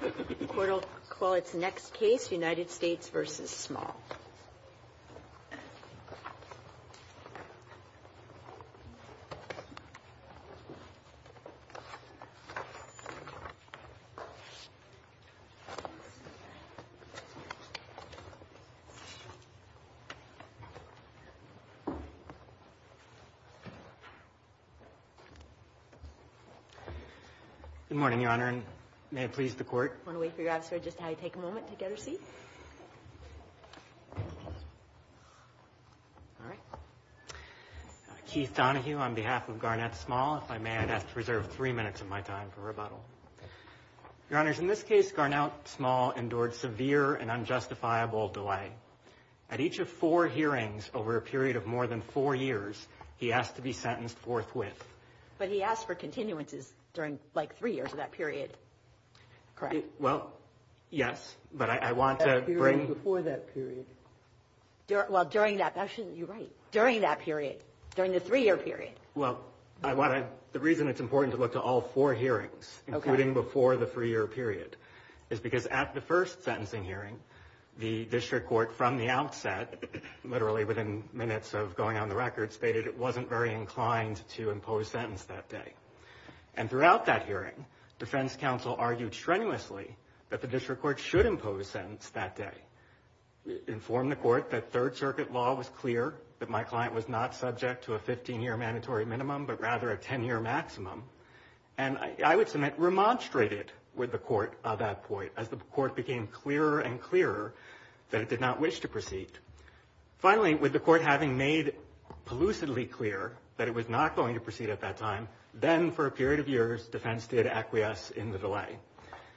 The Court will call its next case, United States v. Small. Good morning, Your Honor, and may it please the Court. I want to wait for your answer. Just take a moment to get a seat. All right. Keith Donohue on behalf of Garnett Small. If I may, I'd ask to reserve three minutes of my time for rebuttal. Your Honors, in this case, Garnett Small endured severe and unjustifiable delay. At each of four hearings over a period of more than four years, he asked to be sentenced forthwith. But he asked for continuances during, like, three years of that period. Correct. Well, yes, but I want to bring... Before that period. Well, during that... Actually, you're right. During that period. During the three-year period. Well, I want to... The reason it's important to look to all four hearings, including before the three-year period, is because at the first sentencing hearing, the District Court, from the outset, literally within minutes of going on the records, stated it wasn't very inclined to impose sentence that day. And throughout that hearing, Defense Counsel argued strenuously that the District Court should impose sentence that day. It informed the Court that Third Circuit law was clear, that my client was not subject to a 15-year mandatory minimum, but rather a 10-year maximum. And I would submit, it remonstrated with the Court at that point, as the Court became clearer and clearer that it did not wish to proceed. Finally, with the Court having made elusively clear that it was not going to proceed at that time, then for a period of years, Defense did acquiesce in the delay.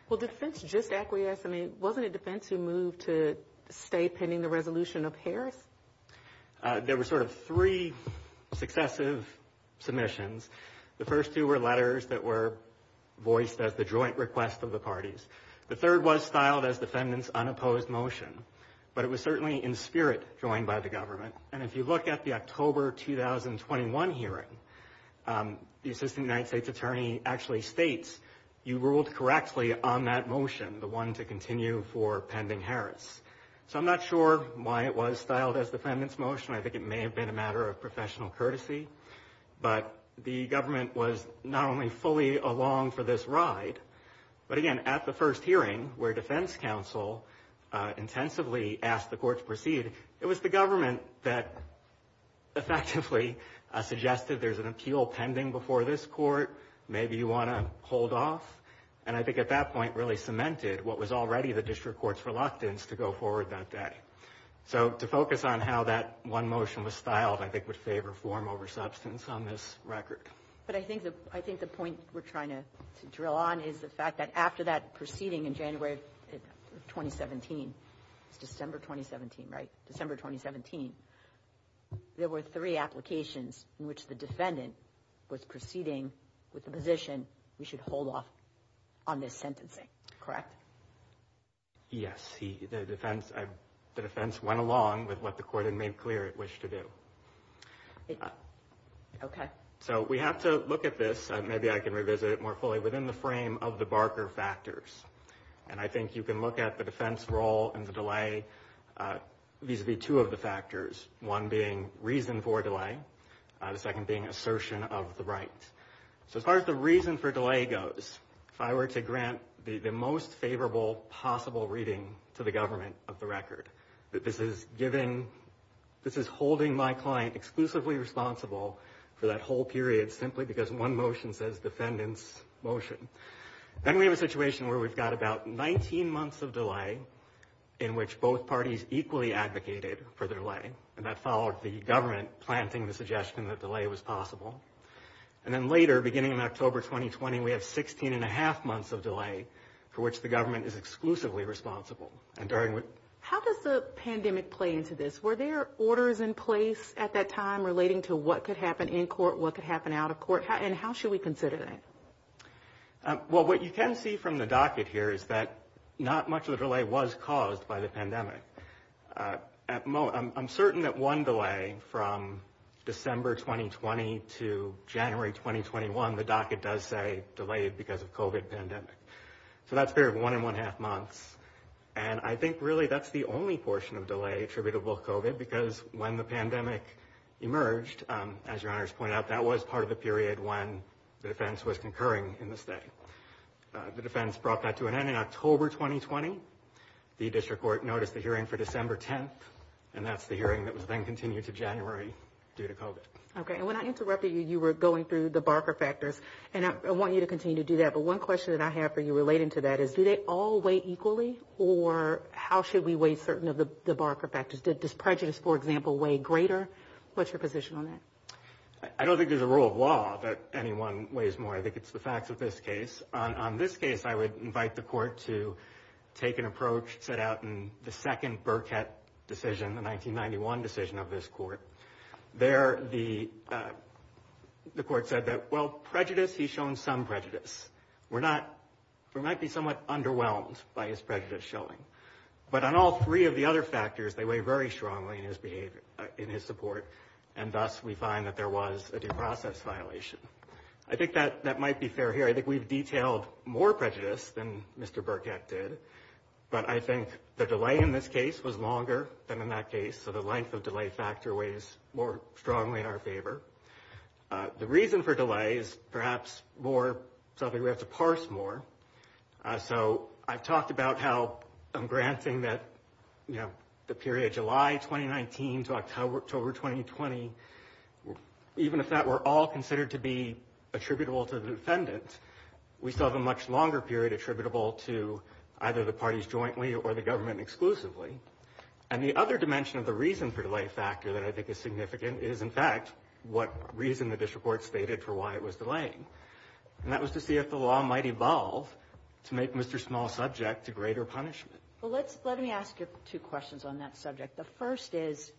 Well, did Defense just acquiesce? I mean, wasn't it Defense who moved to stay pending the resolution of Harris? There were sort of three successive submissions. The first two were letters that were voiced as the joint request of the parties. The third was styled as the defendant's unopposed motion, but it was certainly in spirit joined by the government. And if you look at the October 2021 hearing, the Assistant United States Attorney actually states, you ruled correctly on that motion, the one to continue for pending Harris. So I'm not sure why it was styled as the defendant's motion. I think it may have been a matter of professional courtesy. But the government was not only fully along for this ride, but again, at the first hearing where Defense Counsel intensively asked the Court to proceed, it was the government that effectively suggested there's an appeal pending before this Court. Maybe you want to hold off. And I think at that point really cemented what was already the District Court's reluctance to go forward that day. So to focus on how that one motion was styled, I think, would favor form over substance on this record. But I think the point we're trying to drill on is the fact that after that proceeding in January 2017, it's December 2017, right? December 2017. There were three applications in which the defendant was proceeding with the position. We should hold off on this sentencing. Correct? Yes. The defense went along with what the court had made clear it wished to do. OK, so we have to look at this. Maybe I can revisit it more fully within the frame of the Barker factors. And I think you can look at the defense role and the delay vis-a-vis two of the factors, one being reason for delay, the second being assertion of the right. So as far as the reason for delay goes, if I were to grant the most favorable possible reading to the government of the record, that this is holding my client exclusively responsible for that whole period simply because one motion says defendant's motion. Then we have a situation where we've got about 19 months of delay in which both parties equally advocated for the delay. And that followed the government planting the suggestion that delay was possible. And then later, beginning in October 2020, we have 16 and a half months of delay for which the government is exclusively responsible. And during. How does the pandemic play into this? Were there orders in place at that time relating to what could happen in court, what could happen out of court? And how should we consider that? Well, what you can see from the docket here is that not much of the delay was caused by the pandemic. At most, I'm certain that one delay from December 2020 to January 2021, the docket does say delayed because of Covid pandemic. So that's fair. One and one half months. And I think really that's the only portion of delay attributable. Covid, because when the pandemic emerged, as your honors pointed out, that was part of the period when the defense was concurring in the state. The defense brought that to an end in October 2020. The district court noticed the hearing for December 10th. And that's the hearing that was then continued to January due to Covid. OK. And when I interrupted you, you were going through the Barker factors and I want you to continue to do that. But one question that I have for you relating to that is, do they all weigh equally or how should we weigh certain of the Barker factors? Did this prejudice, for example, weigh greater? What's your position on that? I don't think there's a rule of law that anyone weighs more. I think it's the facts of this case. On this case, I would invite the court to take an approach set out in the second Burkett decision, the 1991 decision of this court. There, the court said that, well, prejudice, he's shown some prejudice. We're not we might be somewhat underwhelmed by his prejudice showing. But on all three of the other factors, they weigh very strongly in his behavior, in his support. And thus we find that there was a due process violation. I think that that might be fair here. I think we've detailed more prejudice than Mr. Burkett did. But I think the delay in this case was longer than in that case. So the length of delay factor weighs more strongly in our favor. The reason for delay is perhaps more something we have to parse more. So I've talked about how I'm granting that, you know, the period July 2019 to October 2020, even if that were all considered to be attributable to the defendant, we still have a much longer period attributable to either the parties jointly or the government exclusively. And the other dimension of the reason for delay factor that I think is significant is, in fact, what reason that this report stated for why it was delaying. And that was to see if the law might evolve to make Mr. Small's subject to greater punishment. Well, let me ask you two questions on that subject. The first is,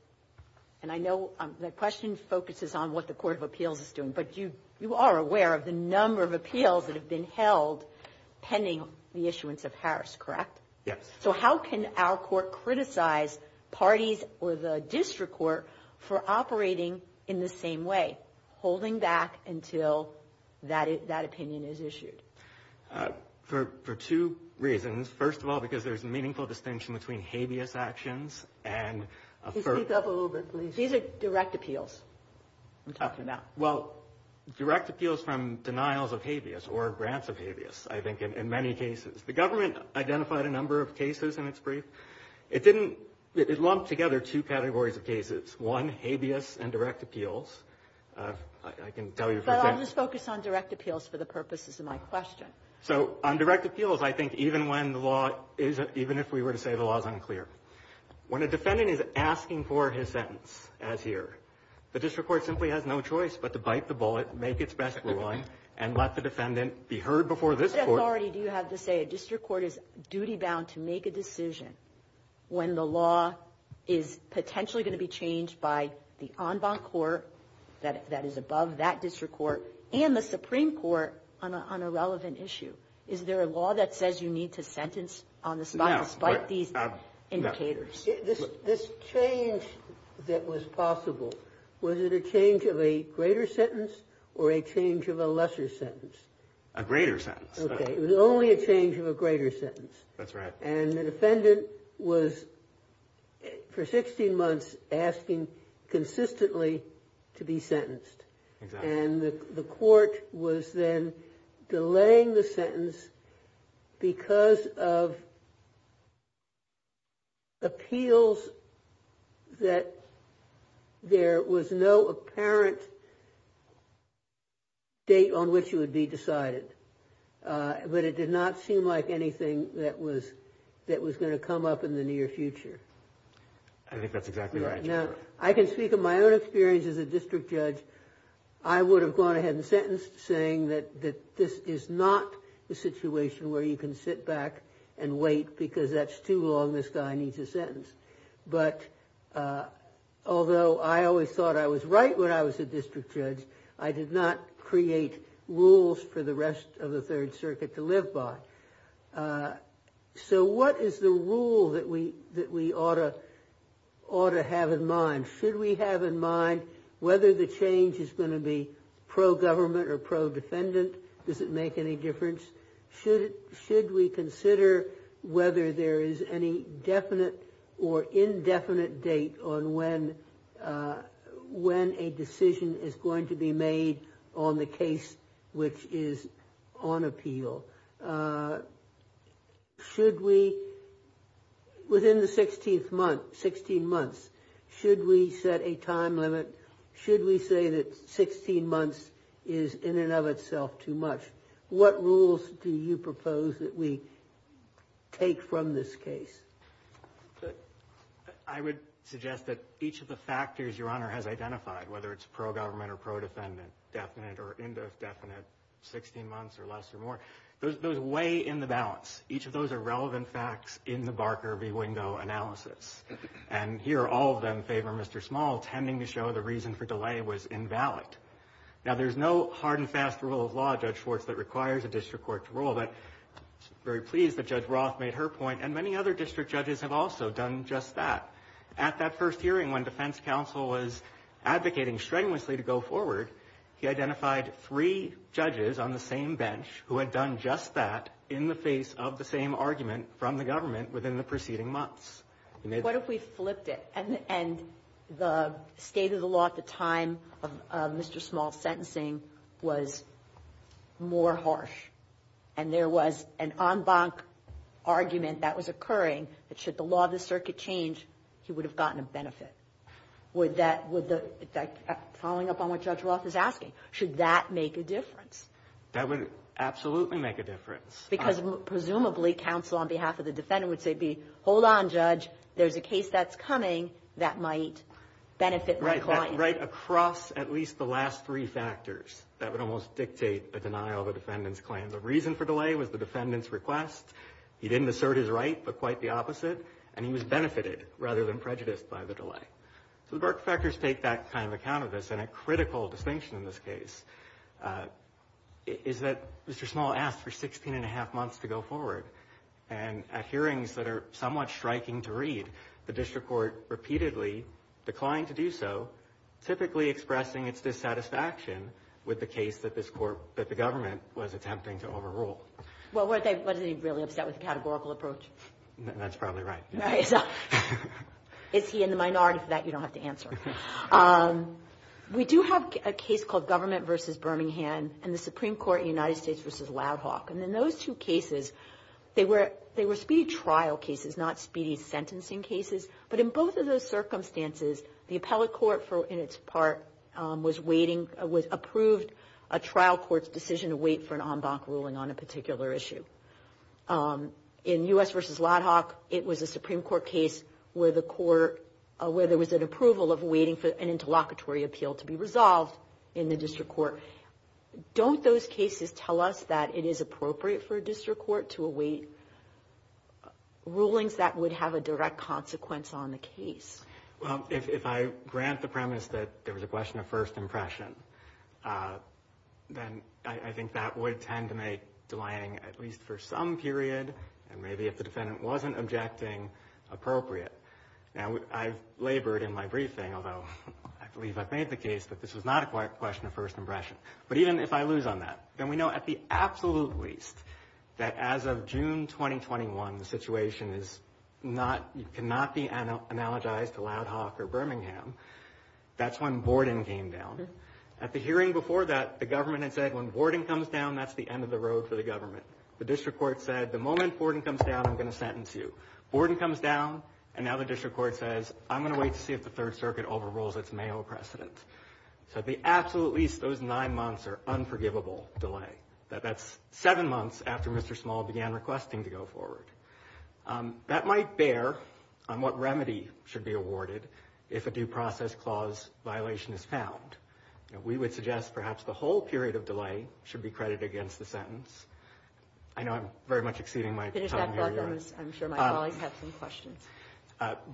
and I know the question focuses on what the Court of Appeals is doing, but you are aware of the number of appeals that have been held pending the issuance of Harris, correct? Yes. So how can our court criticize parties or the district court for operating in the same way, holding back until that opinion is issued? For two reasons. First of all, because there's meaningful distinction between habeas actions and... Speak up a little bit, please. These are direct appeals. Well, direct appeals from denials of habeas or grants of habeas, I think, in many cases. The government identified a number of cases in its brief. It didn't – it lumped together two categories of cases. One, habeas and direct appeals. I can tell you... But I'll just focus on direct appeals for the purposes of my question. So on direct appeals, I think even when the law is – even if we were to say the law is unclear. When a defendant is asking for his sentence, as here, the district court simply has no choice but to bite the bullet, make its best ruling, and let the defendant be heard before this court... If a district court is duty-bound to make a decision when the law is potentially going to be changed by the en banc court that is above that district court and the Supreme Court on a relevant issue, is there a law that says you need to sentence on the spot, despite these indicators? This change that was possible, was it a change of a greater sentence or a change of a lesser sentence? A greater sentence. Okay. It was only a change of a greater sentence. That's right. And the defendant was, for 16 months, asking consistently to be sentenced. Exactly. And the court was then delaying the sentence because of appeals that there was no apparent date on which it would be decided. But it did not seem like anything that was going to come up in the near future. I think that's exactly right. Now, I can speak of my own experience as a district judge. I would have gone ahead and sentenced saying that this is not a situation where you can sit back and wait because that's too long, this guy needs a sentence. But although I always thought I was right when I was a district judge, I did not create rules for the rest of the Third Circuit to live by. So what is the rule that we ought to have in mind? Should we have in mind whether the change is going to be pro-government or pro-defendant? Does it make any difference? Should we consider whether there is any definite or indefinite date on when a decision is going to be made on the case which is on appeal? Within the 16th month, 16 months, should we set a time limit? Should we say that 16 months is in and of itself too much? What rules do you propose that we take from this case? I would suggest that each of the factors Your Honor has identified, whether it's pro-government or pro-defendant, definite or indefinite, 16 months or less or more, those weigh in the balance. Each of those are relevant facts in the Barker v. Wingo analysis. And here all of them favor Mr. Small, tending to show the reason for delay was invalid. Now, there's no hard and fast rule of law, Judge Schwartz, that requires a district court to rule. But I'm very pleased that Judge Roth made her point. And many other district judges have also done just that. At that first hearing when defense counsel was advocating strenuously to go forward, he identified three judges on the same bench who had done just that in the face of the same argument from the government within the preceding months. What if we flipped it and the state of the law at the time of Mr. Small's sentencing was more harsh and there was an en banc argument that was occurring that should the law of the circuit change, he would have gotten a benefit? Following up on what Judge Roth is asking, should that make a difference? That would absolutely make a difference. Because presumably counsel on behalf of the defendant would say, hold on, Judge, there's a case that's coming that might benefit my client. Right across at least the last three factors that would almost dictate a denial of a defendant's claim. The reason for delay was the defendant's request. He didn't assert his right, but quite the opposite. And he was benefited rather than prejudiced by the delay. So the Barker factors take that kind of account of this. And a critical distinction in this case is that Mr. Small asked for 16 and a half months to go forward. And at hearings that are somewhat striking to read, the district court repeatedly declined to do so, typically expressing its dissatisfaction with the case that the government was attempting to overrule. Well, were they really upset with the categorical approach? That's probably right. Is he in the minority for that? You don't have to answer. We do have a case called Government v. Birmingham and the Supreme Court in the United States v. Ladd-Hawk. And in those two cases, they were speedy trial cases, not speedy sentencing cases. But in both of those circumstances, the appellate court in its part was waiting, was approved a trial court's decision to wait for an en banc ruling on a particular issue. In U.S. v. Ladd-Hawk, it was a Supreme Court case where the court, where there was an approval of waiting for an interlocutory appeal to be resolved in the district court. Don't those cases tell us that it is appropriate for a district court to await rulings that would have a direct consequence on the case? Well, if I grant the premise that there was a question of first impression, then I think that would tend to make delaying at least for some period, and maybe if the defendant wasn't objecting, appropriate. Now, I've labored in my briefing, although I believe I've made the case that this was not a question of first impression. But even if I lose on that, then we know at the absolute least that as of June 2021, the situation cannot be analogized to Ladd-Hawk or Birmingham. That's when Borden came down. At the hearing before that, the government had said, when Borden comes down, that's the end of the road for the government. The district court said, the moment Borden comes down, I'm going to sentence you. Borden comes down, and now the district court says, I'm going to wait to see if the Third Circuit overrules its Mayo precedent. So at the absolute least, those nine months are unforgivable delay. That's seven months after Mr. Small began requesting to go forward. That might bear on what remedy should be awarded if a due process clause violation is found. We would suggest perhaps the whole period of delay should be credited against the sentence. I know I'm very much exceeding my time here. I'm sure my colleagues have some questions.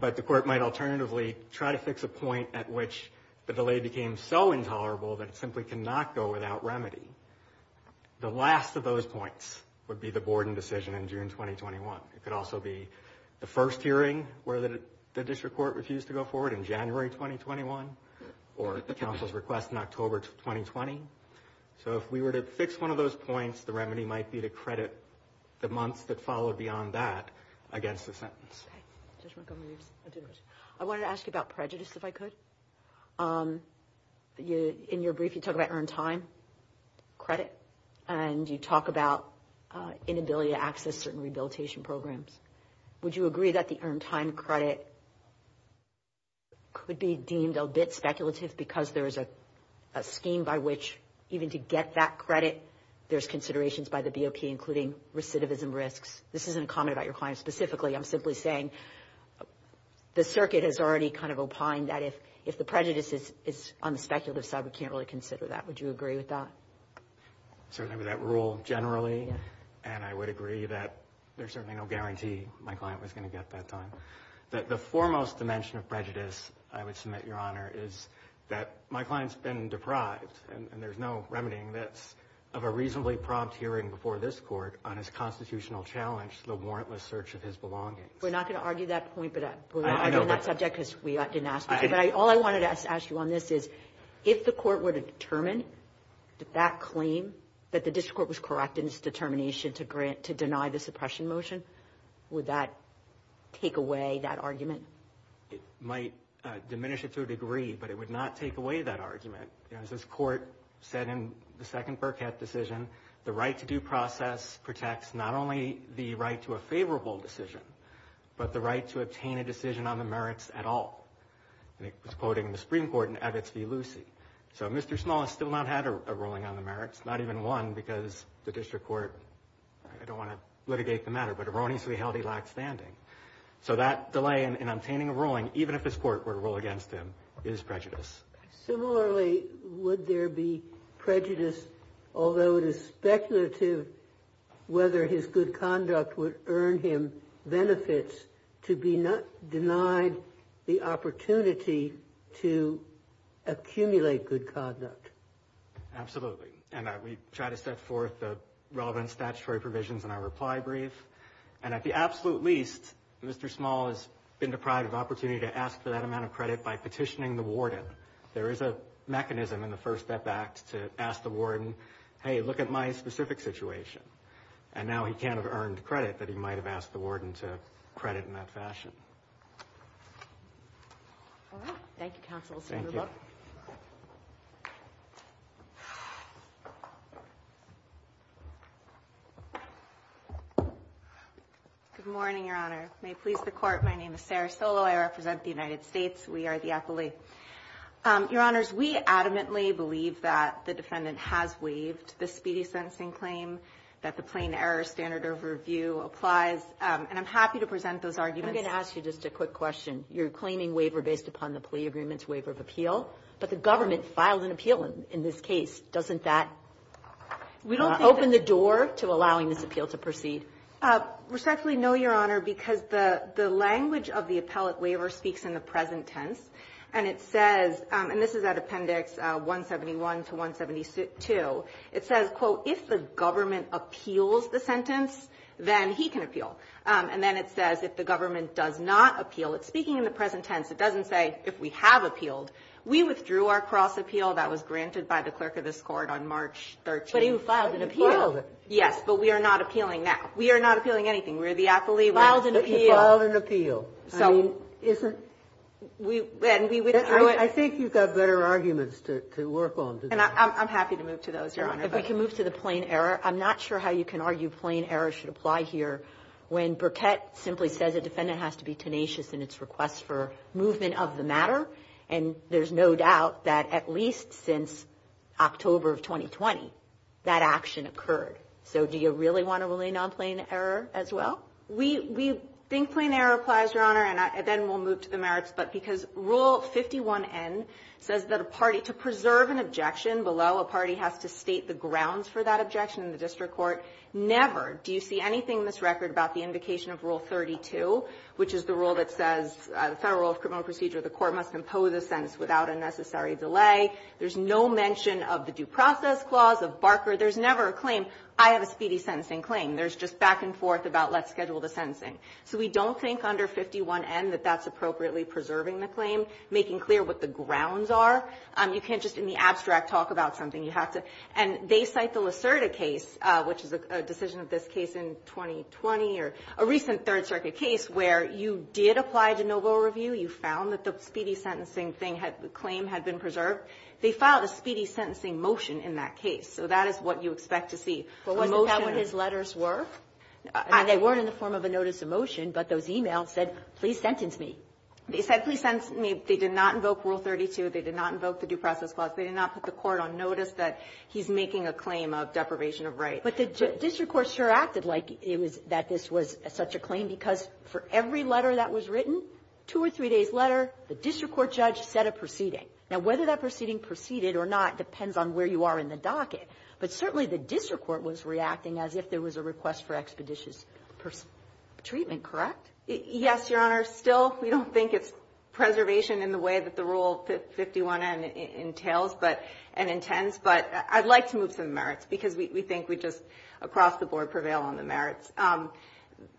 But the court might alternatively try to fix a point at which the delay became so intolerable that it simply cannot go without remedy. The last of those points would be the Borden decision in June 2021. It could also be the first hearing where the district court refused to go forward in January 2021, or the council's request in October 2020. So if we were to fix one of those points, the remedy might be to credit the months that followed beyond that against the sentence. I wanted to ask you about prejudice, if I could. In your brief, you talk about earned time credit. And you talk about inability to access certain rehabilitation programs. Would you agree that the earned time credit could be deemed a bit speculative because there is a scheme by which even to get that credit, there's considerations by the BOP, including recidivism risks? This isn't a comment about your client specifically. I'm simply saying the circuit has already kind of opined that if the prejudice is on the speculative side, we can't really consider that. Would you agree with that? Certainly with that rule generally. And I would agree that there's certainly no guarantee my client was going to get that time. The foremost dimension of prejudice, I would submit, Your Honor, is that my client's been deprived, and there's no remedying this, of a reasonably prompt hearing before this Court on his constitutional challenge to the warrantless search of his belongings. We're not going to argue that point, but we're arguing that subject because we didn't ask you. But all I wanted to ask you on this is, if the Court were to determine that that claim, that the district court was correct in its determination to deny the suppression motion, would that take away that argument? It might diminish it to a degree, but it would not take away that argument. As this Court said in the second Burkett decision, the right-to-do process protects not only the right to a favorable decision, but the right to obtain a decision on the merits at all. And it was quoted in the Supreme Court in Evitz v. Lucey. So Mr. Small has still not had a ruling on the merits, not even one, because the district court, I don't want to litigate the matter, but erroneously held he lacked standing. So that delay in obtaining a ruling, even if this Court were to rule against him, is prejudice. Similarly, would there be prejudice, although it is speculative whether his good conduct would earn him benefits, to be denied the opportunity to accumulate good conduct? Absolutely. And we try to set forth the relevant statutory provisions in our reply brief. And at the absolute least, Mr. Small has been deprived of opportunity to ask for that amount of credit by petitioning the warden. There is a mechanism in the First Step Act to ask the warden, hey, look at my specific situation. And now he can't have earned credit that he might have asked the warden to credit in that fashion. All right. Thank you, counsel. Thank you. Good morning, Your Honor. May it please the Court, my name is Sarah Solo. I represent the United States. We are the appellee. Your Honors, we adamantly believe that the defendant has waived the speedy sentencing claim, that the plain error standard of review applies. And I'm happy to present those arguments. I'm going to ask you just a quick question. You're claiming waiver based upon the plea agreement's waiver of appeal. But the government filed an appeal in this case. Doesn't that open the door to allowing this appeal to proceed? Respectfully, no, Your Honor, because the language of the appellate waiver speaks in the present tense. And it says, and this is at Appendix 171 to 172, it says, quote, if the government appeals the sentence, then he can appeal. And then it says, if the government does not appeal. It's speaking in the present tense. It doesn't say if we have appealed. We withdrew our cross-appeal. That was granted by the clerk of this Court on March 13th. But he filed an appeal. Yes, but we are not appealing now. We are not appealing anything. We are the appellee. Filed an appeal. But he filed an appeal. I think you've got better arguments to work on. And I'm happy to move to those, Your Honor. If we can move to the plain error. I'm not sure how you can argue plain error should apply here when Burkett simply says a defendant has to be tenacious in its request for movement of the matter. And there's no doubt that at least since October of 2020, that action occurred. So do you really want to rely on plain error as well? We think plain error applies, Your Honor. And then we'll move to the merits. But because Rule 51N says that a party, to preserve an objection below, a party has to state the grounds for that objection in the district court. Never do you see anything in this record about the invocation of Rule 32, which is the rule that says the Federal Rule of Criminal Procedure, the court must impose a sentence without a necessary delay. There's no mention of the due process clause, of Barker. There's never a claim, I have a speedy sentencing claim. There's just back and forth about let's schedule the sentencing. So we don't think under 51N that that's appropriately preserving the claim, making clear what the grounds are. You can't just in the abstract talk about something. You have to. And they cite the Lacerda case, which is a decision of this case in 2020, or a recent Third Circuit case where you did apply de novo review, you found that the speedy sentencing thing had the claim had been preserved. They filed a speedy sentencing motion in that case. So that is what you expect to see. Wasn't that what his letters were? And they weren't in the form of a notice of motion, but those e-mails said, please sentence me. They said, please sentence me. They did not invoke Rule 32. They did not invoke the due process clause. They did not put the court on notice that he's making a claim of deprivation of rights. But the district court sure acted like it was that this was such a claim, because for every letter that was written, two or three days' letter, the district court judge set a proceeding. Now, whether that proceeding proceeded or not depends on where you are in the docket. But certainly the district court was reacting as if there was a request for expeditious treatment, correct? Yes, Your Honor. Still, we don't think it's preservation in the way that the Rule 51N entails and intends. But I'd like to move some merits, because we think we just across the board prevail on the merits.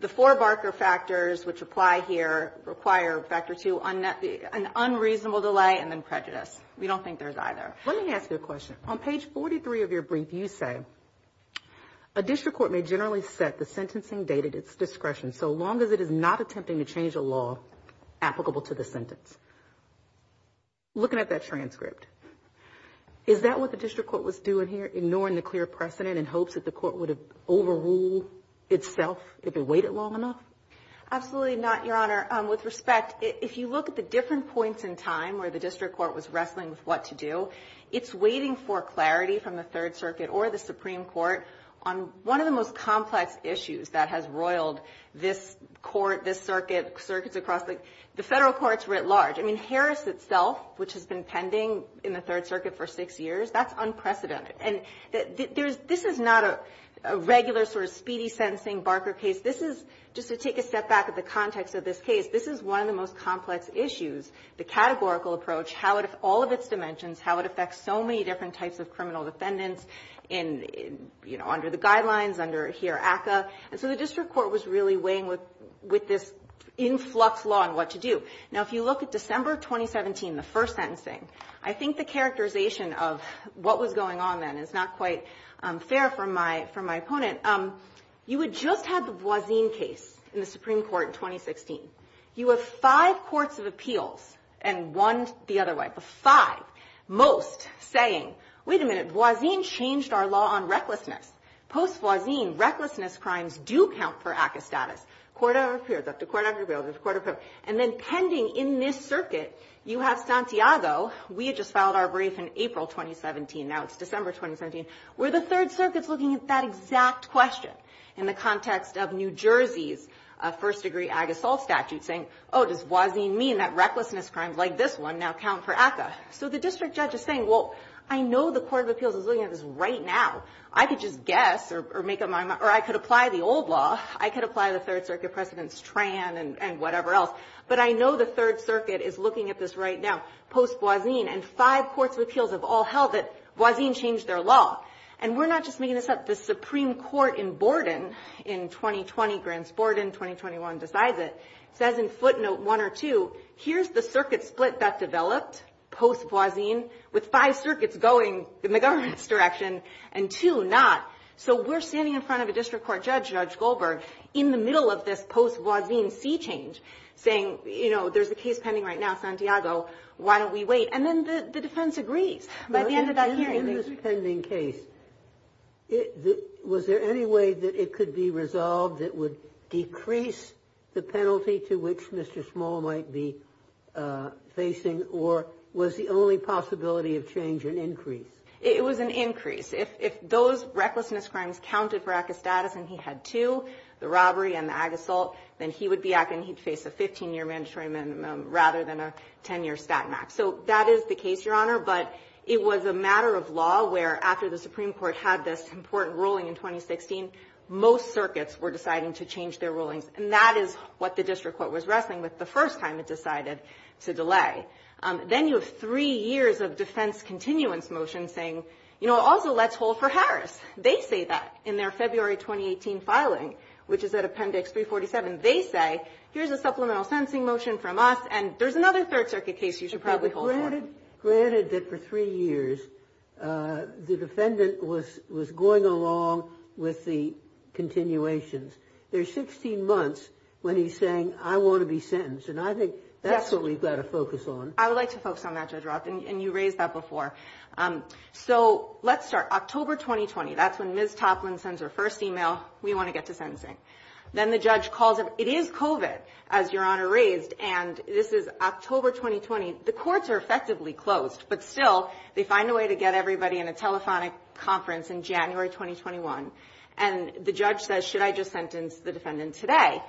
The four Barker factors which apply here require Factor 2, an unreasonable delay, and then prejudice. We don't think there's either. Let me ask you a question. On page 43 of your brief, you say, a district court may generally set the sentencing date at its discretion so long as it is not attempting to change a law applicable to the sentence. Looking at that transcript, is that what the district court was doing here, ignoring the clear precedent in hopes that the court would have overruled itself if it waited long enough? Absolutely not, Your Honor. With respect, if you look at the different points in time where the district court was wrestling with what to do, it's waiting for clarity from the Third Circuit or the Supreme Court on one of the most complex issues that has roiled this court, this circuit, circuits across the federal courts writ large. I mean, Harris itself, which has been pending in the Third Circuit for six years, that's unprecedented. And this is not a regular sort of speedy sentencing Barker case. This is, just to take a step back of the context of this case, this is one of the most complex issues. The categorical approach, how it affects all of its dimensions, how it affects so many different types of criminal defendants in, you know, under the guidelines, under here ACCA. And so the district court was really weighing with this in-flux law on what to do. Now, if you look at December 2017, the first sentencing, I think the characterization of what was going on then is not quite fair for my opponent. You had just had the Voisin case in the Supreme Court in 2016. You have five courts of appeals, and one the other way, but five. Most saying, wait a minute, Voisin changed our law on recklessness. Post-Voisin, recklessness crimes do count for ACCA status. Court of appeals, up to court of appeals, up to court of appeals. And then pending in this circuit, you have Santiago. We had just filed our brief in April 2017. Now it's December 2017. We're the Third Circuit's looking at that exact question in the context of New York statute, saying, oh, does Voisin mean that recklessness crimes like this one now count for ACCA? So the district judge is saying, well, I know the court of appeals is looking at this right now. I could just guess or make up my mind, or I could apply the old law. I could apply the Third Circuit precedents, Tran and whatever else. But I know the Third Circuit is looking at this right now, post-Voisin, and five courts of appeals have all held that Voisin changed their law. And we're not just making this up. The Supreme Court in Borden in 2020, Grants Borden, 2021 decides it, says in footnote one or two, here's the circuit split that developed post-Voisin with five circuits going in the government's direction and two not. So we're standing in front of a district court judge, Judge Goldberg, in the middle of this post-Voisin C change, saying, you know, there's a case pending right now, Santiago. Why don't we wait? And then the defense agrees by the end of that hearing. In this pending case, was there any way that it could be resolved that would decrease the penalty to which Mr. Small might be facing, or was the only possibility of change an increase? It was an increase. If those recklessness crimes counted for active status and he had two, the robbery and the ag assault, then he would be acting, he'd face a 15-year mandatory minimum rather than a 10-year stat max. So that is the case, Your Honor. But it was a matter of law where after the Supreme Court had this important ruling in 2016, most circuits were deciding to change their rulings. And that is what the district court was wrestling with the first time it decided to delay. Then you have three years of defense continuance motions saying, you know, also let's hold for Harris. They say that in their February 2018 filing, which is at Appendix 347. They say, here's a supplemental sentencing motion from us, and there's another Third Circuit case you should probably hold for. Granted that for three years, the defendant was going along with the continuations. There's 16 months when he's saying, I want to be sentenced. And I think that's what we've got to focus on. I would like to focus on that, Judge Roth, and you raised that before. So let's start. October 2020, that's when Ms. Toplin sends her first email. We want to get to sentencing. Then the judge calls him. It is COVID, as Your Honor raised, and this is October 2020. The courts are effectively closed, but still they find a way to get everybody in a telephonic conference in January 2021. And the judge says, should I just sentence the defendant today?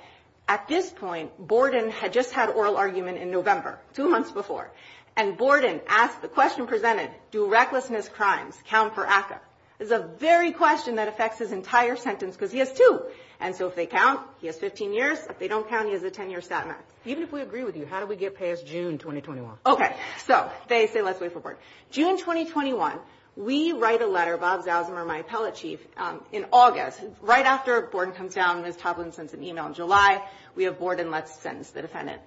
At this point, Borden had just had oral argument in November, two months before. And Borden asked the question presented, do recklessness crimes count for ACCA? It's a very question that affects his entire sentence because he has two. And so if they count, he has 15 years. If they don't count, he has a 10-year sentence. Even if we agree with you, how do we get past June 2021? Okay, so they say let's wait for Borden. June 2021, we write a letter, Bob Zausenmer, my appellate chief, in August. Right after Borden comes down, Ms. Toplin sends an email in July. We have Borden let's sentence the defendant.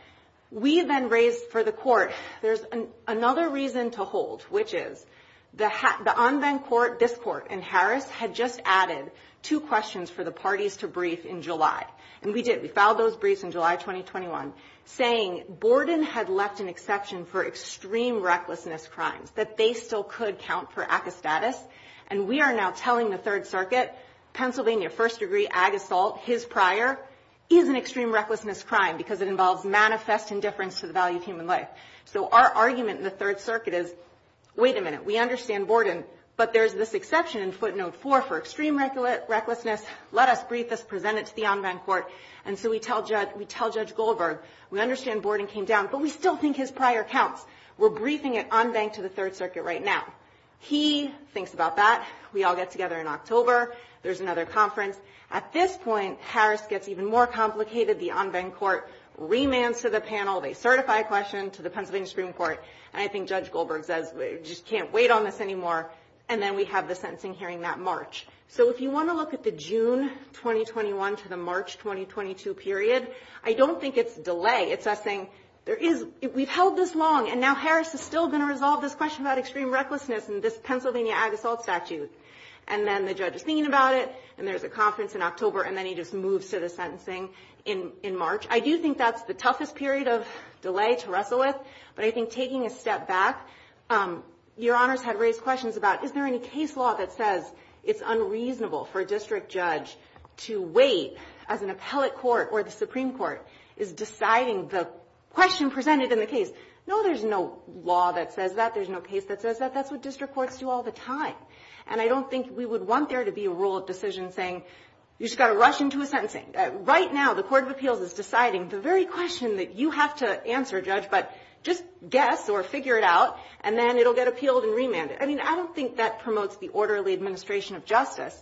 We then raise for the court. There's another reason to hold, which is the Anven court, this court, and Harris had just added two questions for the parties to brief in July, and we did. We filed those briefs in July 2021, saying Borden had left an exception for extreme recklessness crimes, that they still could count for ACCA status. And we are now telling the Third Circuit, Pennsylvania first degree AG assault, his prior, is an extreme recklessness crime because it involves manifest indifference to the value of human life. So our argument in the Third Circuit is, wait a minute, we understand Borden, but there's this exception in footnote four for extreme recklessness. Let us brief this, present it to the Anven court. And so we tell Judge Goldberg, we understand Borden came down, but we still think his prior counts. We're briefing at Anven to the Third Circuit right now. He thinks about that. We all get together in October. There's another conference. At this point, Harris gets even more complicated. The Anven court remands to the panel. They certify a question to the Pennsylvania Supreme Court, and I think Judge Goldberg says, we just can't wait on this anymore. And then we have the sentencing hearing that March. So if you want to look at the June 2021 to the March 2022 period, I don't think it's delay. It's us saying, we've held this long, and now Harris is still going to resolve this question about extreme recklessness in this Pennsylvania AG assault statute. And then the judge is thinking about it, and there's a conference in October, and then he just moves to the sentencing in March. I do think that's the toughest period of delay to wrestle with. But I think taking a step back, Your Honors had raised questions about, is there any case law that says it's unreasonable for a district judge to wait as an appellate court or the Supreme Court is deciding the question presented in the case? No, there's no law that says that. There's no case that says that. That's what district courts do all the time. And I don't think we would want there to be a rule of decision saying, you just got to rush into a sentencing. Right now, the Court of Appeals is deciding the very question that you have to answer, Judge, but just guess or figure it out, and then it'll get appealed and remanded. I mean, I don't think that promotes the orderly administration of justice.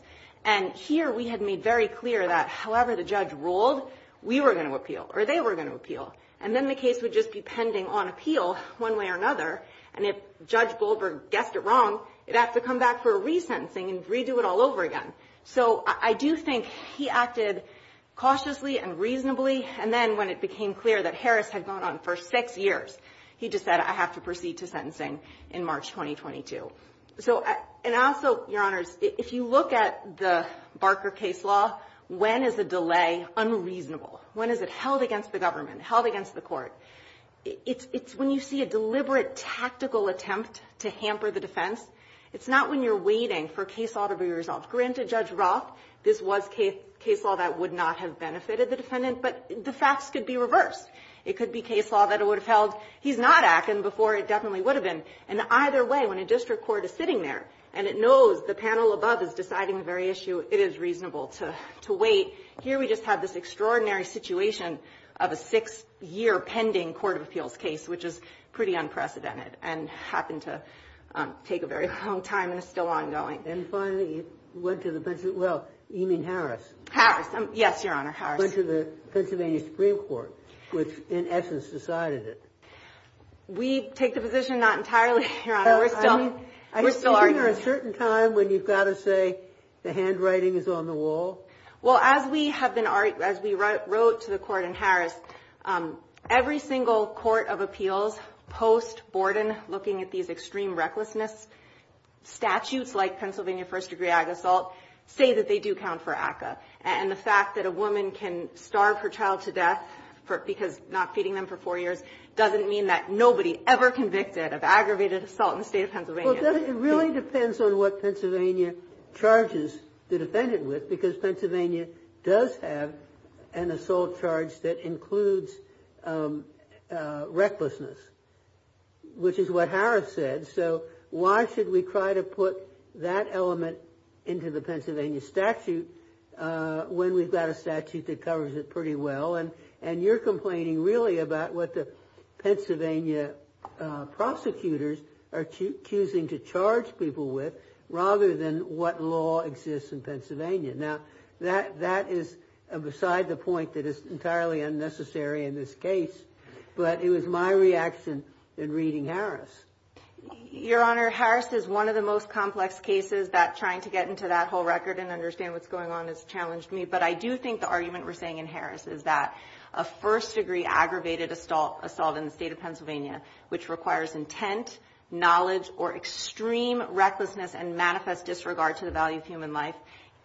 And here we had made very clear that, however the judge ruled, we were going to appeal, or they were going to appeal. And then the case would just be pending on appeal one way or another, and if Judge Goldberg guessed it wrong, it'd have to come back for a resentencing and redo it all over again. So I do think he acted cautiously and reasonably, and then when it became clear that Harris had gone on for six years, he just said, I have to proceed to sentencing in March 2022. So, and also, Your Honors, if you look at the Barker case law, when is the delay unreasonable? When is it held against the government, held against the court? It's when you see a deliberate tactical attempt to hamper the defense. It's not when you're waiting for a case law to be resolved. Granted, Judge Roth, this was case law that would not have benefited the defendant, but the facts could be reversed. It could be case law that it would have held he's not acting before it definitely would have been. And either way, when a district court is sitting there and it knows the panel above is deciding the very issue, it is reasonable to wait. Here we just have this extraordinary situation of a six-year pending court of appeals case, which is pretty unprecedented and happened to take a very long time and is still ongoing. And finally, it went to the Pennsylvania – well, you mean Harris. Harris. Yes, Your Honor, Harris. Went to the Pennsylvania Supreme Court, which in essence decided it. We take the position not entirely, Your Honor. We're still arguing. Are you speaking at a certain time when you've got to say the handwriting is on the wall? Well, as we have been – as we wrote to the court in Harris, every single court of appeals post-Borden, looking at these extreme recklessness statutes like Pennsylvania first-degree ag assault, say that they do count for ACCA. And the fact that a woman can starve her child to death because not feeding them for four years doesn't mean that nobody ever convicted of aggravated assault in the state of Pennsylvania. Well, it really depends on what Pennsylvania charges the defendant with because Pennsylvania does have an assault charge that includes recklessness, which is what Harris said. So why should we try to put that element into the Pennsylvania statute when we've got a statute that covers it pretty well? And you're complaining really about what the Pennsylvania prosecutors are choosing to charge people with rather than what law exists in Pennsylvania. Now, that is beside the point that is entirely unnecessary in this case. But it was my reaction in reading Harris. Your Honor, Harris is one of the most complex cases that trying to get into that whole record and understand what's going on has challenged me. But I do think the argument we're saying in Harris is that a first-degree aggravated assault in the state of Pennsylvania, which requires intent, knowledge, or extreme recklessness and manifest disregard to the value of human life,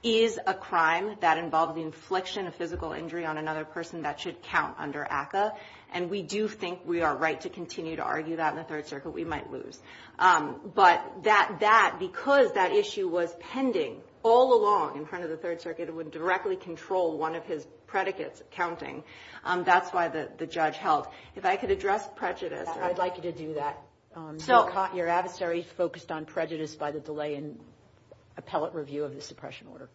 is a crime that involves the infliction of physical injury on another person that should count under ACCA. And we do think we are right to continue to argue that in the Third Circuit. We might lose. But that, because that issue was pending all along in front of the Third Circuit, would directly control one of his predicates, counting. That's why the judge held. If I could address prejudice, I'd like you to do that. Your adversary focused on prejudice by the delay in appellate review of the suppression order.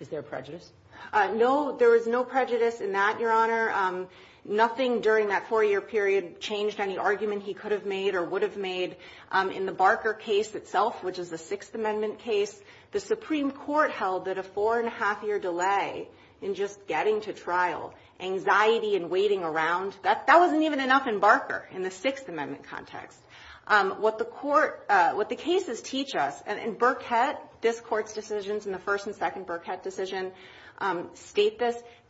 Is there prejudice? No, there is no prejudice in that, Your Honor. Nothing during that four-year period changed any argument he could have made or would have made. In the Barker case itself, which is the Sixth Amendment case, the Supreme Court held that a four-and-a-half-year delay in just getting to trial, anxiety and waiting around, that wasn't even enough in Barker in the Sixth Amendment context. What the court – what the cases teach us – and Burkett, this Court's decisions in the first and second Burkett decision state this –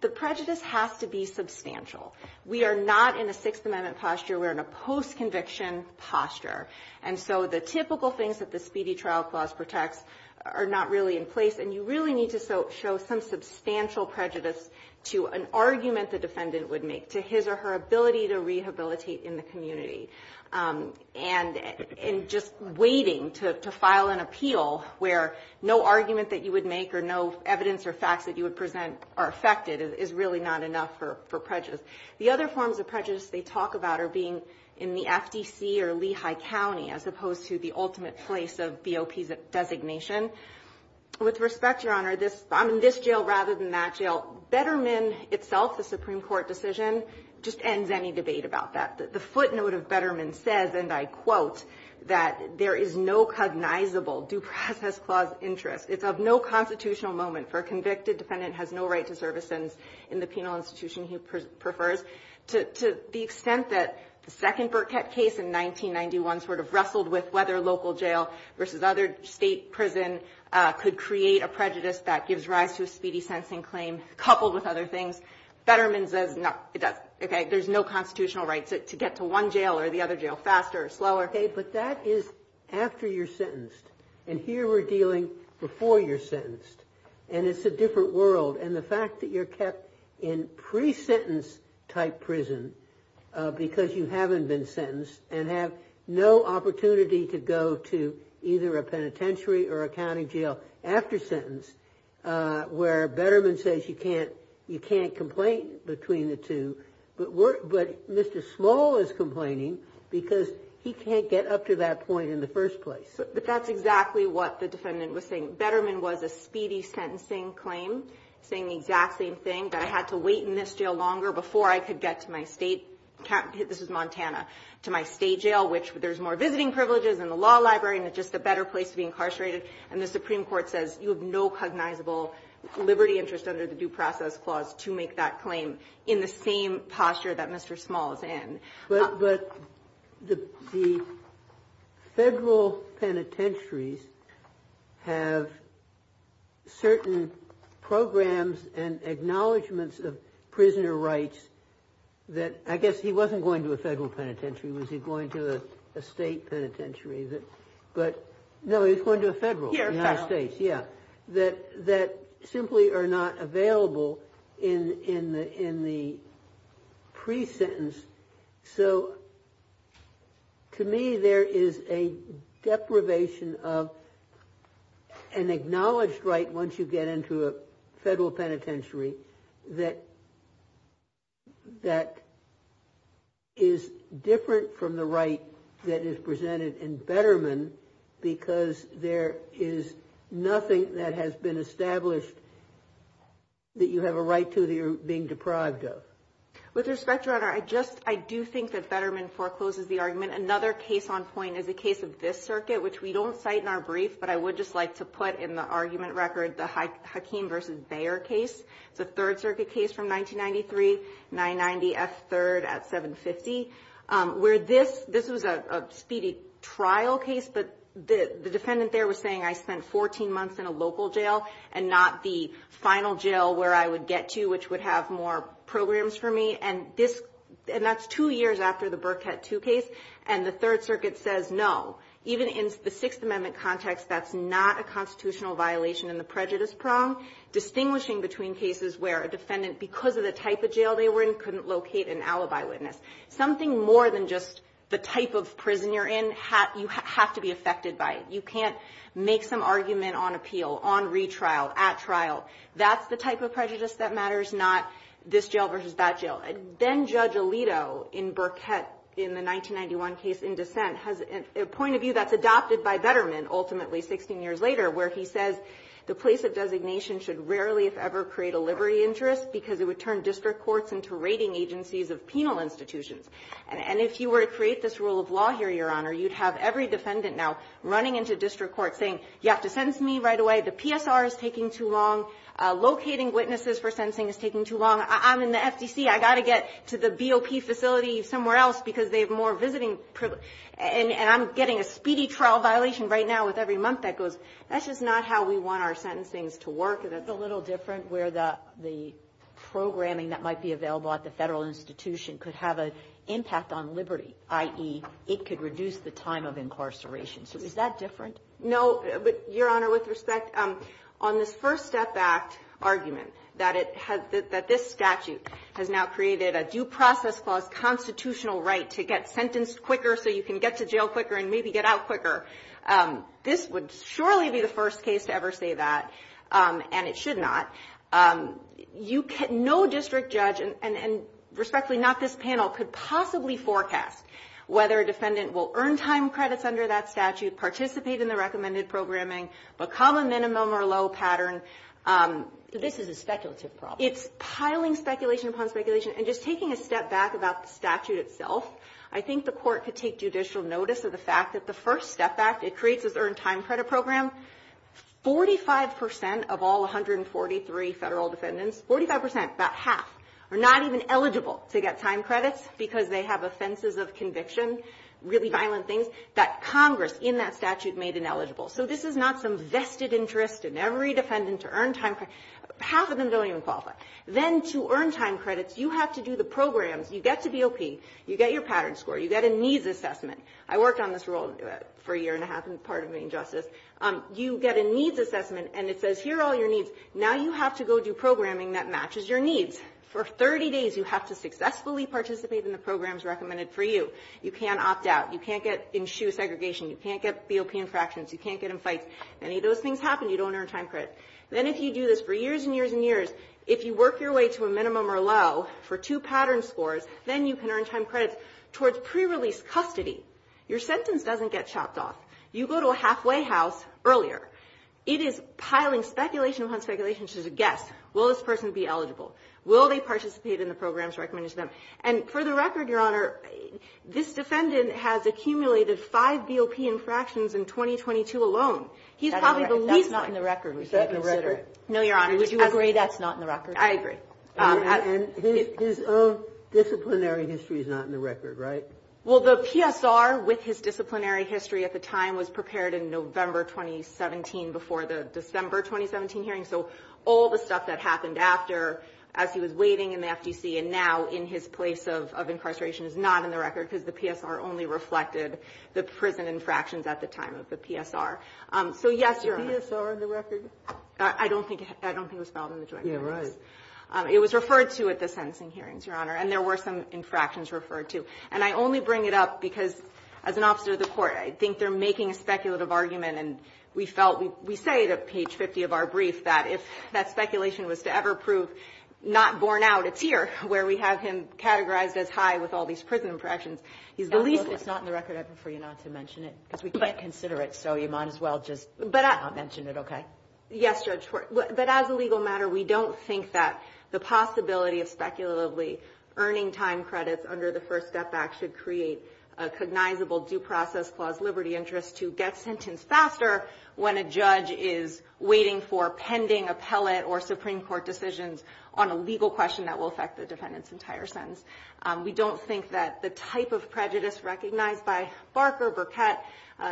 the prejudice has to be substantial. We are not in a Sixth Amendment posture. We are in a post-conviction posture. And so the typical things that the Speedy Trial Clause protects are not really in place. And you really need to show some substantial prejudice to an argument the defendant would make, to his or her ability to rehabilitate in the community. And just waiting to file an appeal where no argument that you would make or no evidence or facts that you would present are affected is really not enough for prejudice. The other forms of prejudice they talk about are being in the FTC or Lehigh County as opposed to the ultimate place of BOP designation. With respect, Your Honor, this – I'm in this jail rather than that jail. Betterman itself, the Supreme Court decision, just ends any debate about that. The footnote of Betterman says, and I quote, that there is no cognizable due process clause interest. It's of no constitutional moment for a convicted defendant has no right to service persons in the penal institution he prefers. To the extent that the second Burkett case in 1991 sort of wrestled with whether local jail versus other state prison could create a prejudice that gives rise to a speedy sentencing claim coupled with other things, Betterman says it doesn't. There's no constitutional right to get to one jail or the other jail faster or slower. Okay, but that is after you're sentenced. And here we're dealing before you're sentenced. And it's a different world. And the fact that you're kept in pre-sentence type prison because you haven't been sentenced and have no opportunity to go to either a penitentiary or a county jail after sentence, where Betterman says you can't complain between the two, but Mr. Small is complaining because he can't get up to that point in the first place. But that's exactly what the defendant was saying. Betterman was a speedy sentencing claim, saying the exact same thing, that I had to wait in this jail longer before I could get to my state. This was Montana. To my state jail, which there's more visiting privileges and the law library and it's just a better place to be incarcerated. And the Supreme Court says you have no cognizable liberty interest under the Due Process Clause to make that claim in the same posture that Mr. Small is in. But the federal penitentiaries have certain programs and acknowledgements of prisoner rights that I guess he wasn't going to a federal penitentiary. Was he going to a state penitentiary? No, he was going to a federal. United States. United States, yeah, that simply are not available in the pre-sentence. So to me there is a deprivation of an acknowledged right once you get into a federal penitentiary that is different from the right that is presented in Betterman because there is nothing that has been established that you have a right to that you're being deprived of. With respect, Your Honor, I do think that Betterman forecloses the argument. Another case on point is a case of this circuit, which we don't cite in our brief, but I would just like to put in the argument record the Hakeem v. Bayer case. It's a Third Circuit case from 1993, 990 F. 3rd at 750, where this was a speedy trial case, but the defendant there was saying I spent 14 months in a local jail and not the final jail where I would get to which would have more programs for me. And that's two years after the Burkett II case, and the Third Circuit says no. Even in the Sixth Amendment context, that's not a constitutional violation in the prejudice prong. Distinguishing between cases where a defendant, because of the type of jail they were in, couldn't locate an alibi witness, something more than just the type of prison you're in, you have to be affected by it. You can't make some argument on appeal, on retrial, at trial. That's the type of prejudice that matters, not this jail versus that jail. Then Judge Alito in Burkett in the 1991 case in dissent has a point of view that's adopted by Betterman, ultimately 16 years later, where he says the place of designation should rarely, if ever, create a liberty interest because it would turn district courts into rating agencies of penal institutions. And if you were to create this rule of law here, Your Honor, you'd have every defendant now running into district court saying you have to sentence me right away. The PSR is taking too long. Locating witnesses for sentencing is taking too long. I'm in the FTC. I've got to get to the BOP facility somewhere else because they have more visiting privileges. And I'm getting a speedy trial violation right now with every month that goes. That's just not how we want our sentencings to work. And it's a little different where the programming that might be available at the Federal institution could have an impact on liberty, i.e., it could reduce the time of incarceration. So is that different? No. But, Your Honor, with respect, on this First Step Act argument, that it has this statute has now created a due process clause constitutional right to get sentenced quicker so you can get to jail quicker and maybe get out quicker. This would surely be the first case to ever say that, and it should not. No district judge, and respectfully, not this panel, could possibly forecast whether a defendant will earn time credits under that statute, participate in the recommended programming, become a minimum or low pattern. So this is a speculative problem. It's piling speculation upon speculation. And just taking a step back about the statute itself, I think the Court could take judicial notice of the fact that the First Step Act, it creates this earned time credit program. Forty-five percent of all 143 Federal defendants, 45 percent, about half, are not even eligible to get time credits because they have offenses of conviction, really violent things, that Congress in that statute made ineligible. So this is not some vested interest in every defendant to earn time credits. Half of them don't even qualify. Then to earn time credits, you have to do the programs. You get to BOP. You get your pattern score. You get a needs assessment. I worked on this role for a year and a half in part of being justice. You get a needs assessment, and it says here are all your needs. Now you have to go do programming that matches your needs. For 30 days, you have to successfully participate in the programs recommended for you. You can't opt out. You can't get in shoe segregation. You can't get BOP infractions. You can't get in fights. Many of those things happen. You don't earn time credits. Then if you do this for years and years and years, if you work your way to a minimum or low for two pattern scores, then you can earn time credits towards pre-release custody. Your sentence doesn't get chopped off. You go to a halfway house earlier. It is piling speculation upon speculation. It's just a guess. Will this person be eligible? Will they participate in the programs recommended to them? And for the record, Your Honor, this defendant has accumulated five BOP infractions in 2022 alone. He's probably the least one. That's not in the record. Is that in the record? No, Your Honor. Would you agree that's not in the record? I agree. And his own disciplinary history is not in the record, right? Well, the PSR with his disciplinary history at the time was prepared in November 2017 before the December 2017 hearing. So all the stuff that happened after as he was waiting in the FTC and now in his place of incarceration is not in the record because the PSR only reflected the prison infractions at the time of the PSR. So, yes, Your Honor. Is the PSR in the record? I don't think it was filed in the joint hearings. Yeah, right. It was referred to at the sentencing hearings, Your Honor. And there were some infractions referred to. And I only bring it up because, as an officer of the court, I think they're making a speculative argument. And we felt we say at page 50 of our brief that if that speculation was to ever prove not borne out, it's here where we have him categorized as high with all these prison infractions. He's the least one. It's not in the record. I prefer you not to mention it because we can't consider it. So you might as well just not mention it, okay? Yes, Judge. But as a legal matter, we don't think that the possibility of speculatively earning time credits under the First Step Act should create a cognizable due process clause liberty interest to get sentenced faster when a judge is waiting for pending appellate or Supreme Court decisions on a legal question that will affect the defendant's entire sentence. We don't think that the type of prejudice recognized by Barker, Burkett,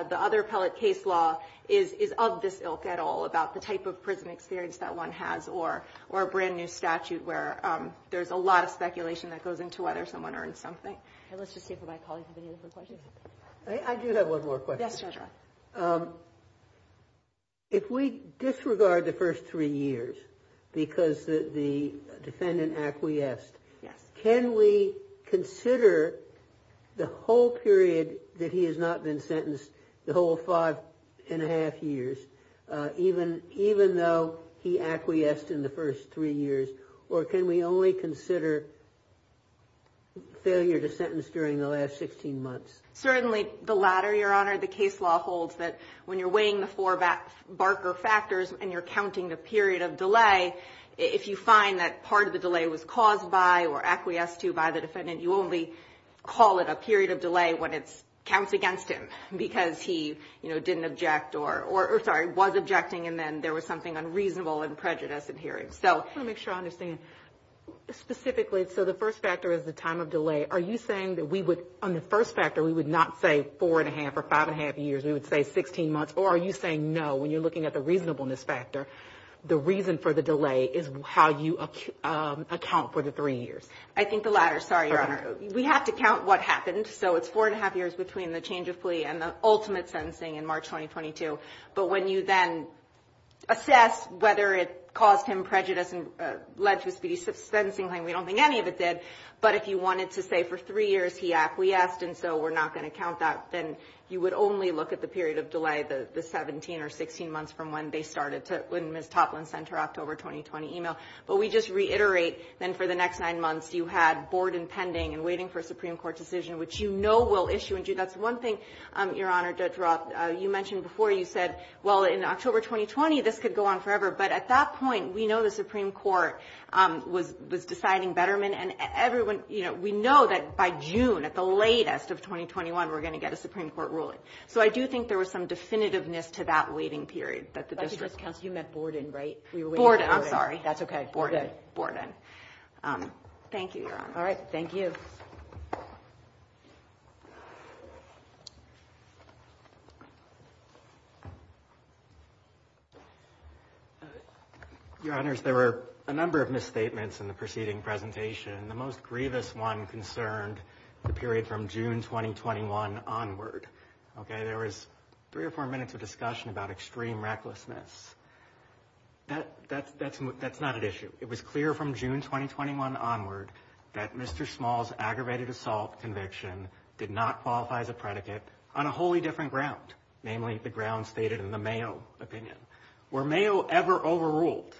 the other appellate case law is of this ilk at all about the type of prison experience that one has or a brand new statute where there's a lot of speculation that goes into whether someone earned something. Okay. Let's just see if my colleagues have any other questions. I do have one more question. Yes, Judge. If we disregard the first three years because the defendant acquiesced, can we consider the whole period that he has not been sentenced, the whole five and a half years, even though he acquiesced in the first three years, or can we only consider failure to sentence during the last 16 months? Certainly the latter, Your Honor. The case law holds that when you're weighing the four Barker factors and you're counting the period of delay, if you find that part of the delay was caused by or acquiesced to by the defendant, you only call it a period of delay when it counts against him because he, you know, didn't object or, sorry, was objecting and then there was something unreasonable and prejudiced in hearing. I want to make sure I understand. Specifically, so the first factor is the time of delay. Are you saying that we would, on the first factor, we would not say four and a half or five and a half years? We would say 16 months? Or are you saying, no, when you're looking at the reasonableness factor, the reason for the delay is how you account for the three years? I think the latter. Sorry, Your Honor. We have to count what happened. So it's four and a half years between the change of plea and the ultimate sentencing in March 2022. But when you then assess whether it caused him prejudice and led to a speedy sentencing claim, we don't think any of it did. But if you wanted to say for three years he acquiesced and so we're not going to count that, then you would only look at the period of delay, the 17 or 16 months from when they started to, when Ms. Toplin sent her October 2020 email. But we just reiterate, then, for the next nine months, you had Borden pending and waiting for a Supreme Court decision, which you know will issue. And that's one thing, Your Honor, Judge Roth, you mentioned before, you said, well, in October 2020, this could go on forever. But at that point, we know the Supreme Court was deciding Betterman. And everyone, you know, we know that by June, at the latest of 2021, we're going to get a Supreme Court ruling. So I do think there was some definitiveness to that waiting period that the district Borden, right? Borden. I'm sorry. That's okay. Borden. Thank you, Your Honor. All right. Thank you. Your Honors, there were a number of misstatements in the preceding presentation. The most grievous one concerned the period from June 2021 onward. Okay. There was three or four minutes of discussion about extreme recklessness. That's not an issue. It was clear from June 2021 onward that Mr. Small's aggravated assault conviction did not qualify as a predicate on a wholly different ground, namely the ground stated in the Mayo opinion. Were Mayo ever overruled,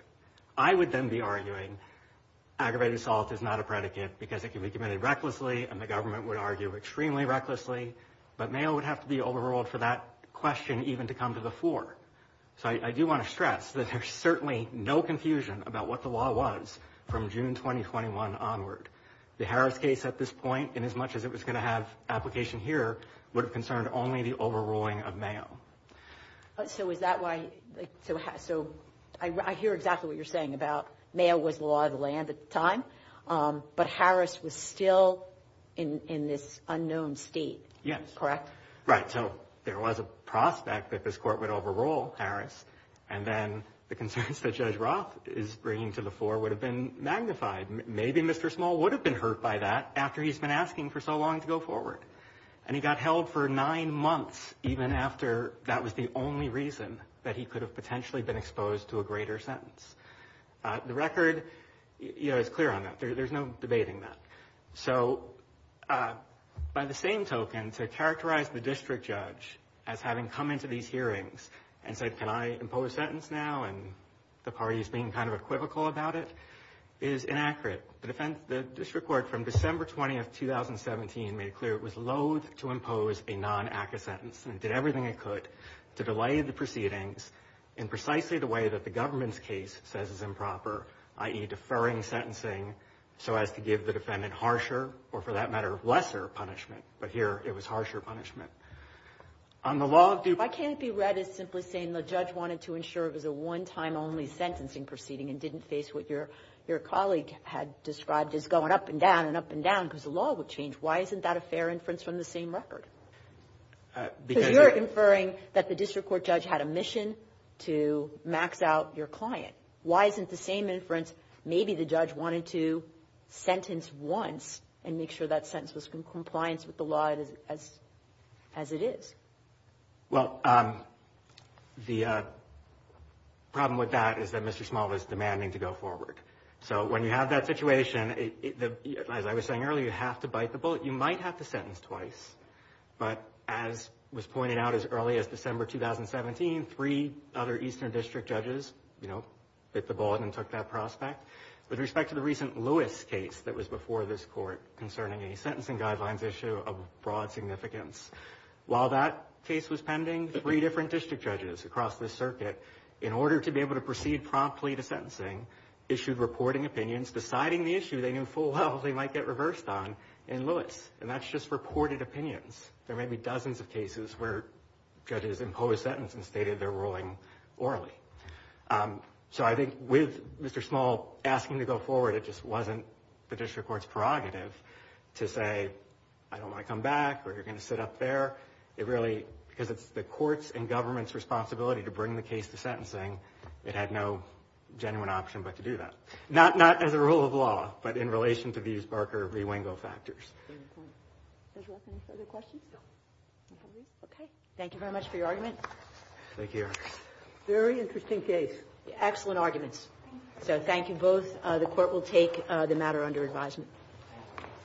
I would then be arguing aggravated assault is not a predicate because it can be committed recklessly and the government would argue extremely recklessly. But Mayo would have to be overruled for that question even to come to the floor. So I do want to stress that there's certainly no confusion about what the law was from June 2021 onward. The Harris case at this point, inasmuch as it was going to have application here, would have concerned only the overruling of Mayo. So is that why? So I hear exactly what you're saying about Mayo was the law of the land at the time Harris was still in this unknown state. Yes. Correct? Right. So there was a prospect that this court would overrule Harris and then the concerns that Judge Roth is bringing to the floor would have been magnified. Maybe Mr. Small would have been hurt by that after he's been asking for so long to go forward. And he got held for nine months even after that was the only reason that he could have potentially been exposed to a greater sentence. The record is clear on that. There's no debating that. So by the same token, to characterize the district judge as having come into these hearings and said, can I impose a sentence now, and the parties being kind of equivocal about it, is inaccurate. The district court from December 20, 2017, made it clear it was loathe to impose a non-ACCA sentence and did everything it could to delay the proceedings in precisely the way that the government's case says is improper, i.e., deferring sentencing so as to give the defendant harsher or, for that matter, lesser punishment. But here, it was harsher punishment. On the law of due process. I can't be read as simply saying the judge wanted to ensure it was a one-time only sentencing proceeding and didn't face what your colleague had described as going up and down and up and down because the law would change. Why isn't that a fair inference from the same record? Because you're inferring that the district court judge had a mission to max out your client. Why isn't the same inference, maybe the judge wanted to sentence once and make sure that sentence was in compliance with the law as it is? Well, the problem with that is that Mr. Small is demanding to go forward. So when you have that situation, as I was saying earlier, you have to bite the bullet. You might have to sentence twice, but as was pointed out as early as December 2017, three other eastern district judges bit the bullet and took that prospect. With respect to the recent Lewis case that was before this court concerning a sentencing guidelines issue of broad significance, while that case was pending, three different district judges across the circuit, in order to be able to proceed promptly to sentencing, issued reporting opinions deciding the issue they knew full well they might get reversed on in Lewis. And that's just reported opinions. There may be dozens of cases where judges impose sentence and stated they're ruling orally. So I think with Mr. Small asking to go forward, it just wasn't the district court's prerogative to say, I don't want to come back, or you're going to sit up there. It really, because it's the court's and government's responsibility to bring the case to sentencing, it had no genuine option but to do that. Not as a rule of law, but in relation to these Barker rewingo factors. Does the Court have any further questions? No. Okay. Thank you very much for your argument. Thank you, Your Honor. Very interesting case. Excellent arguments. Thank you. So thank you both. The Court will take the matter under advisement.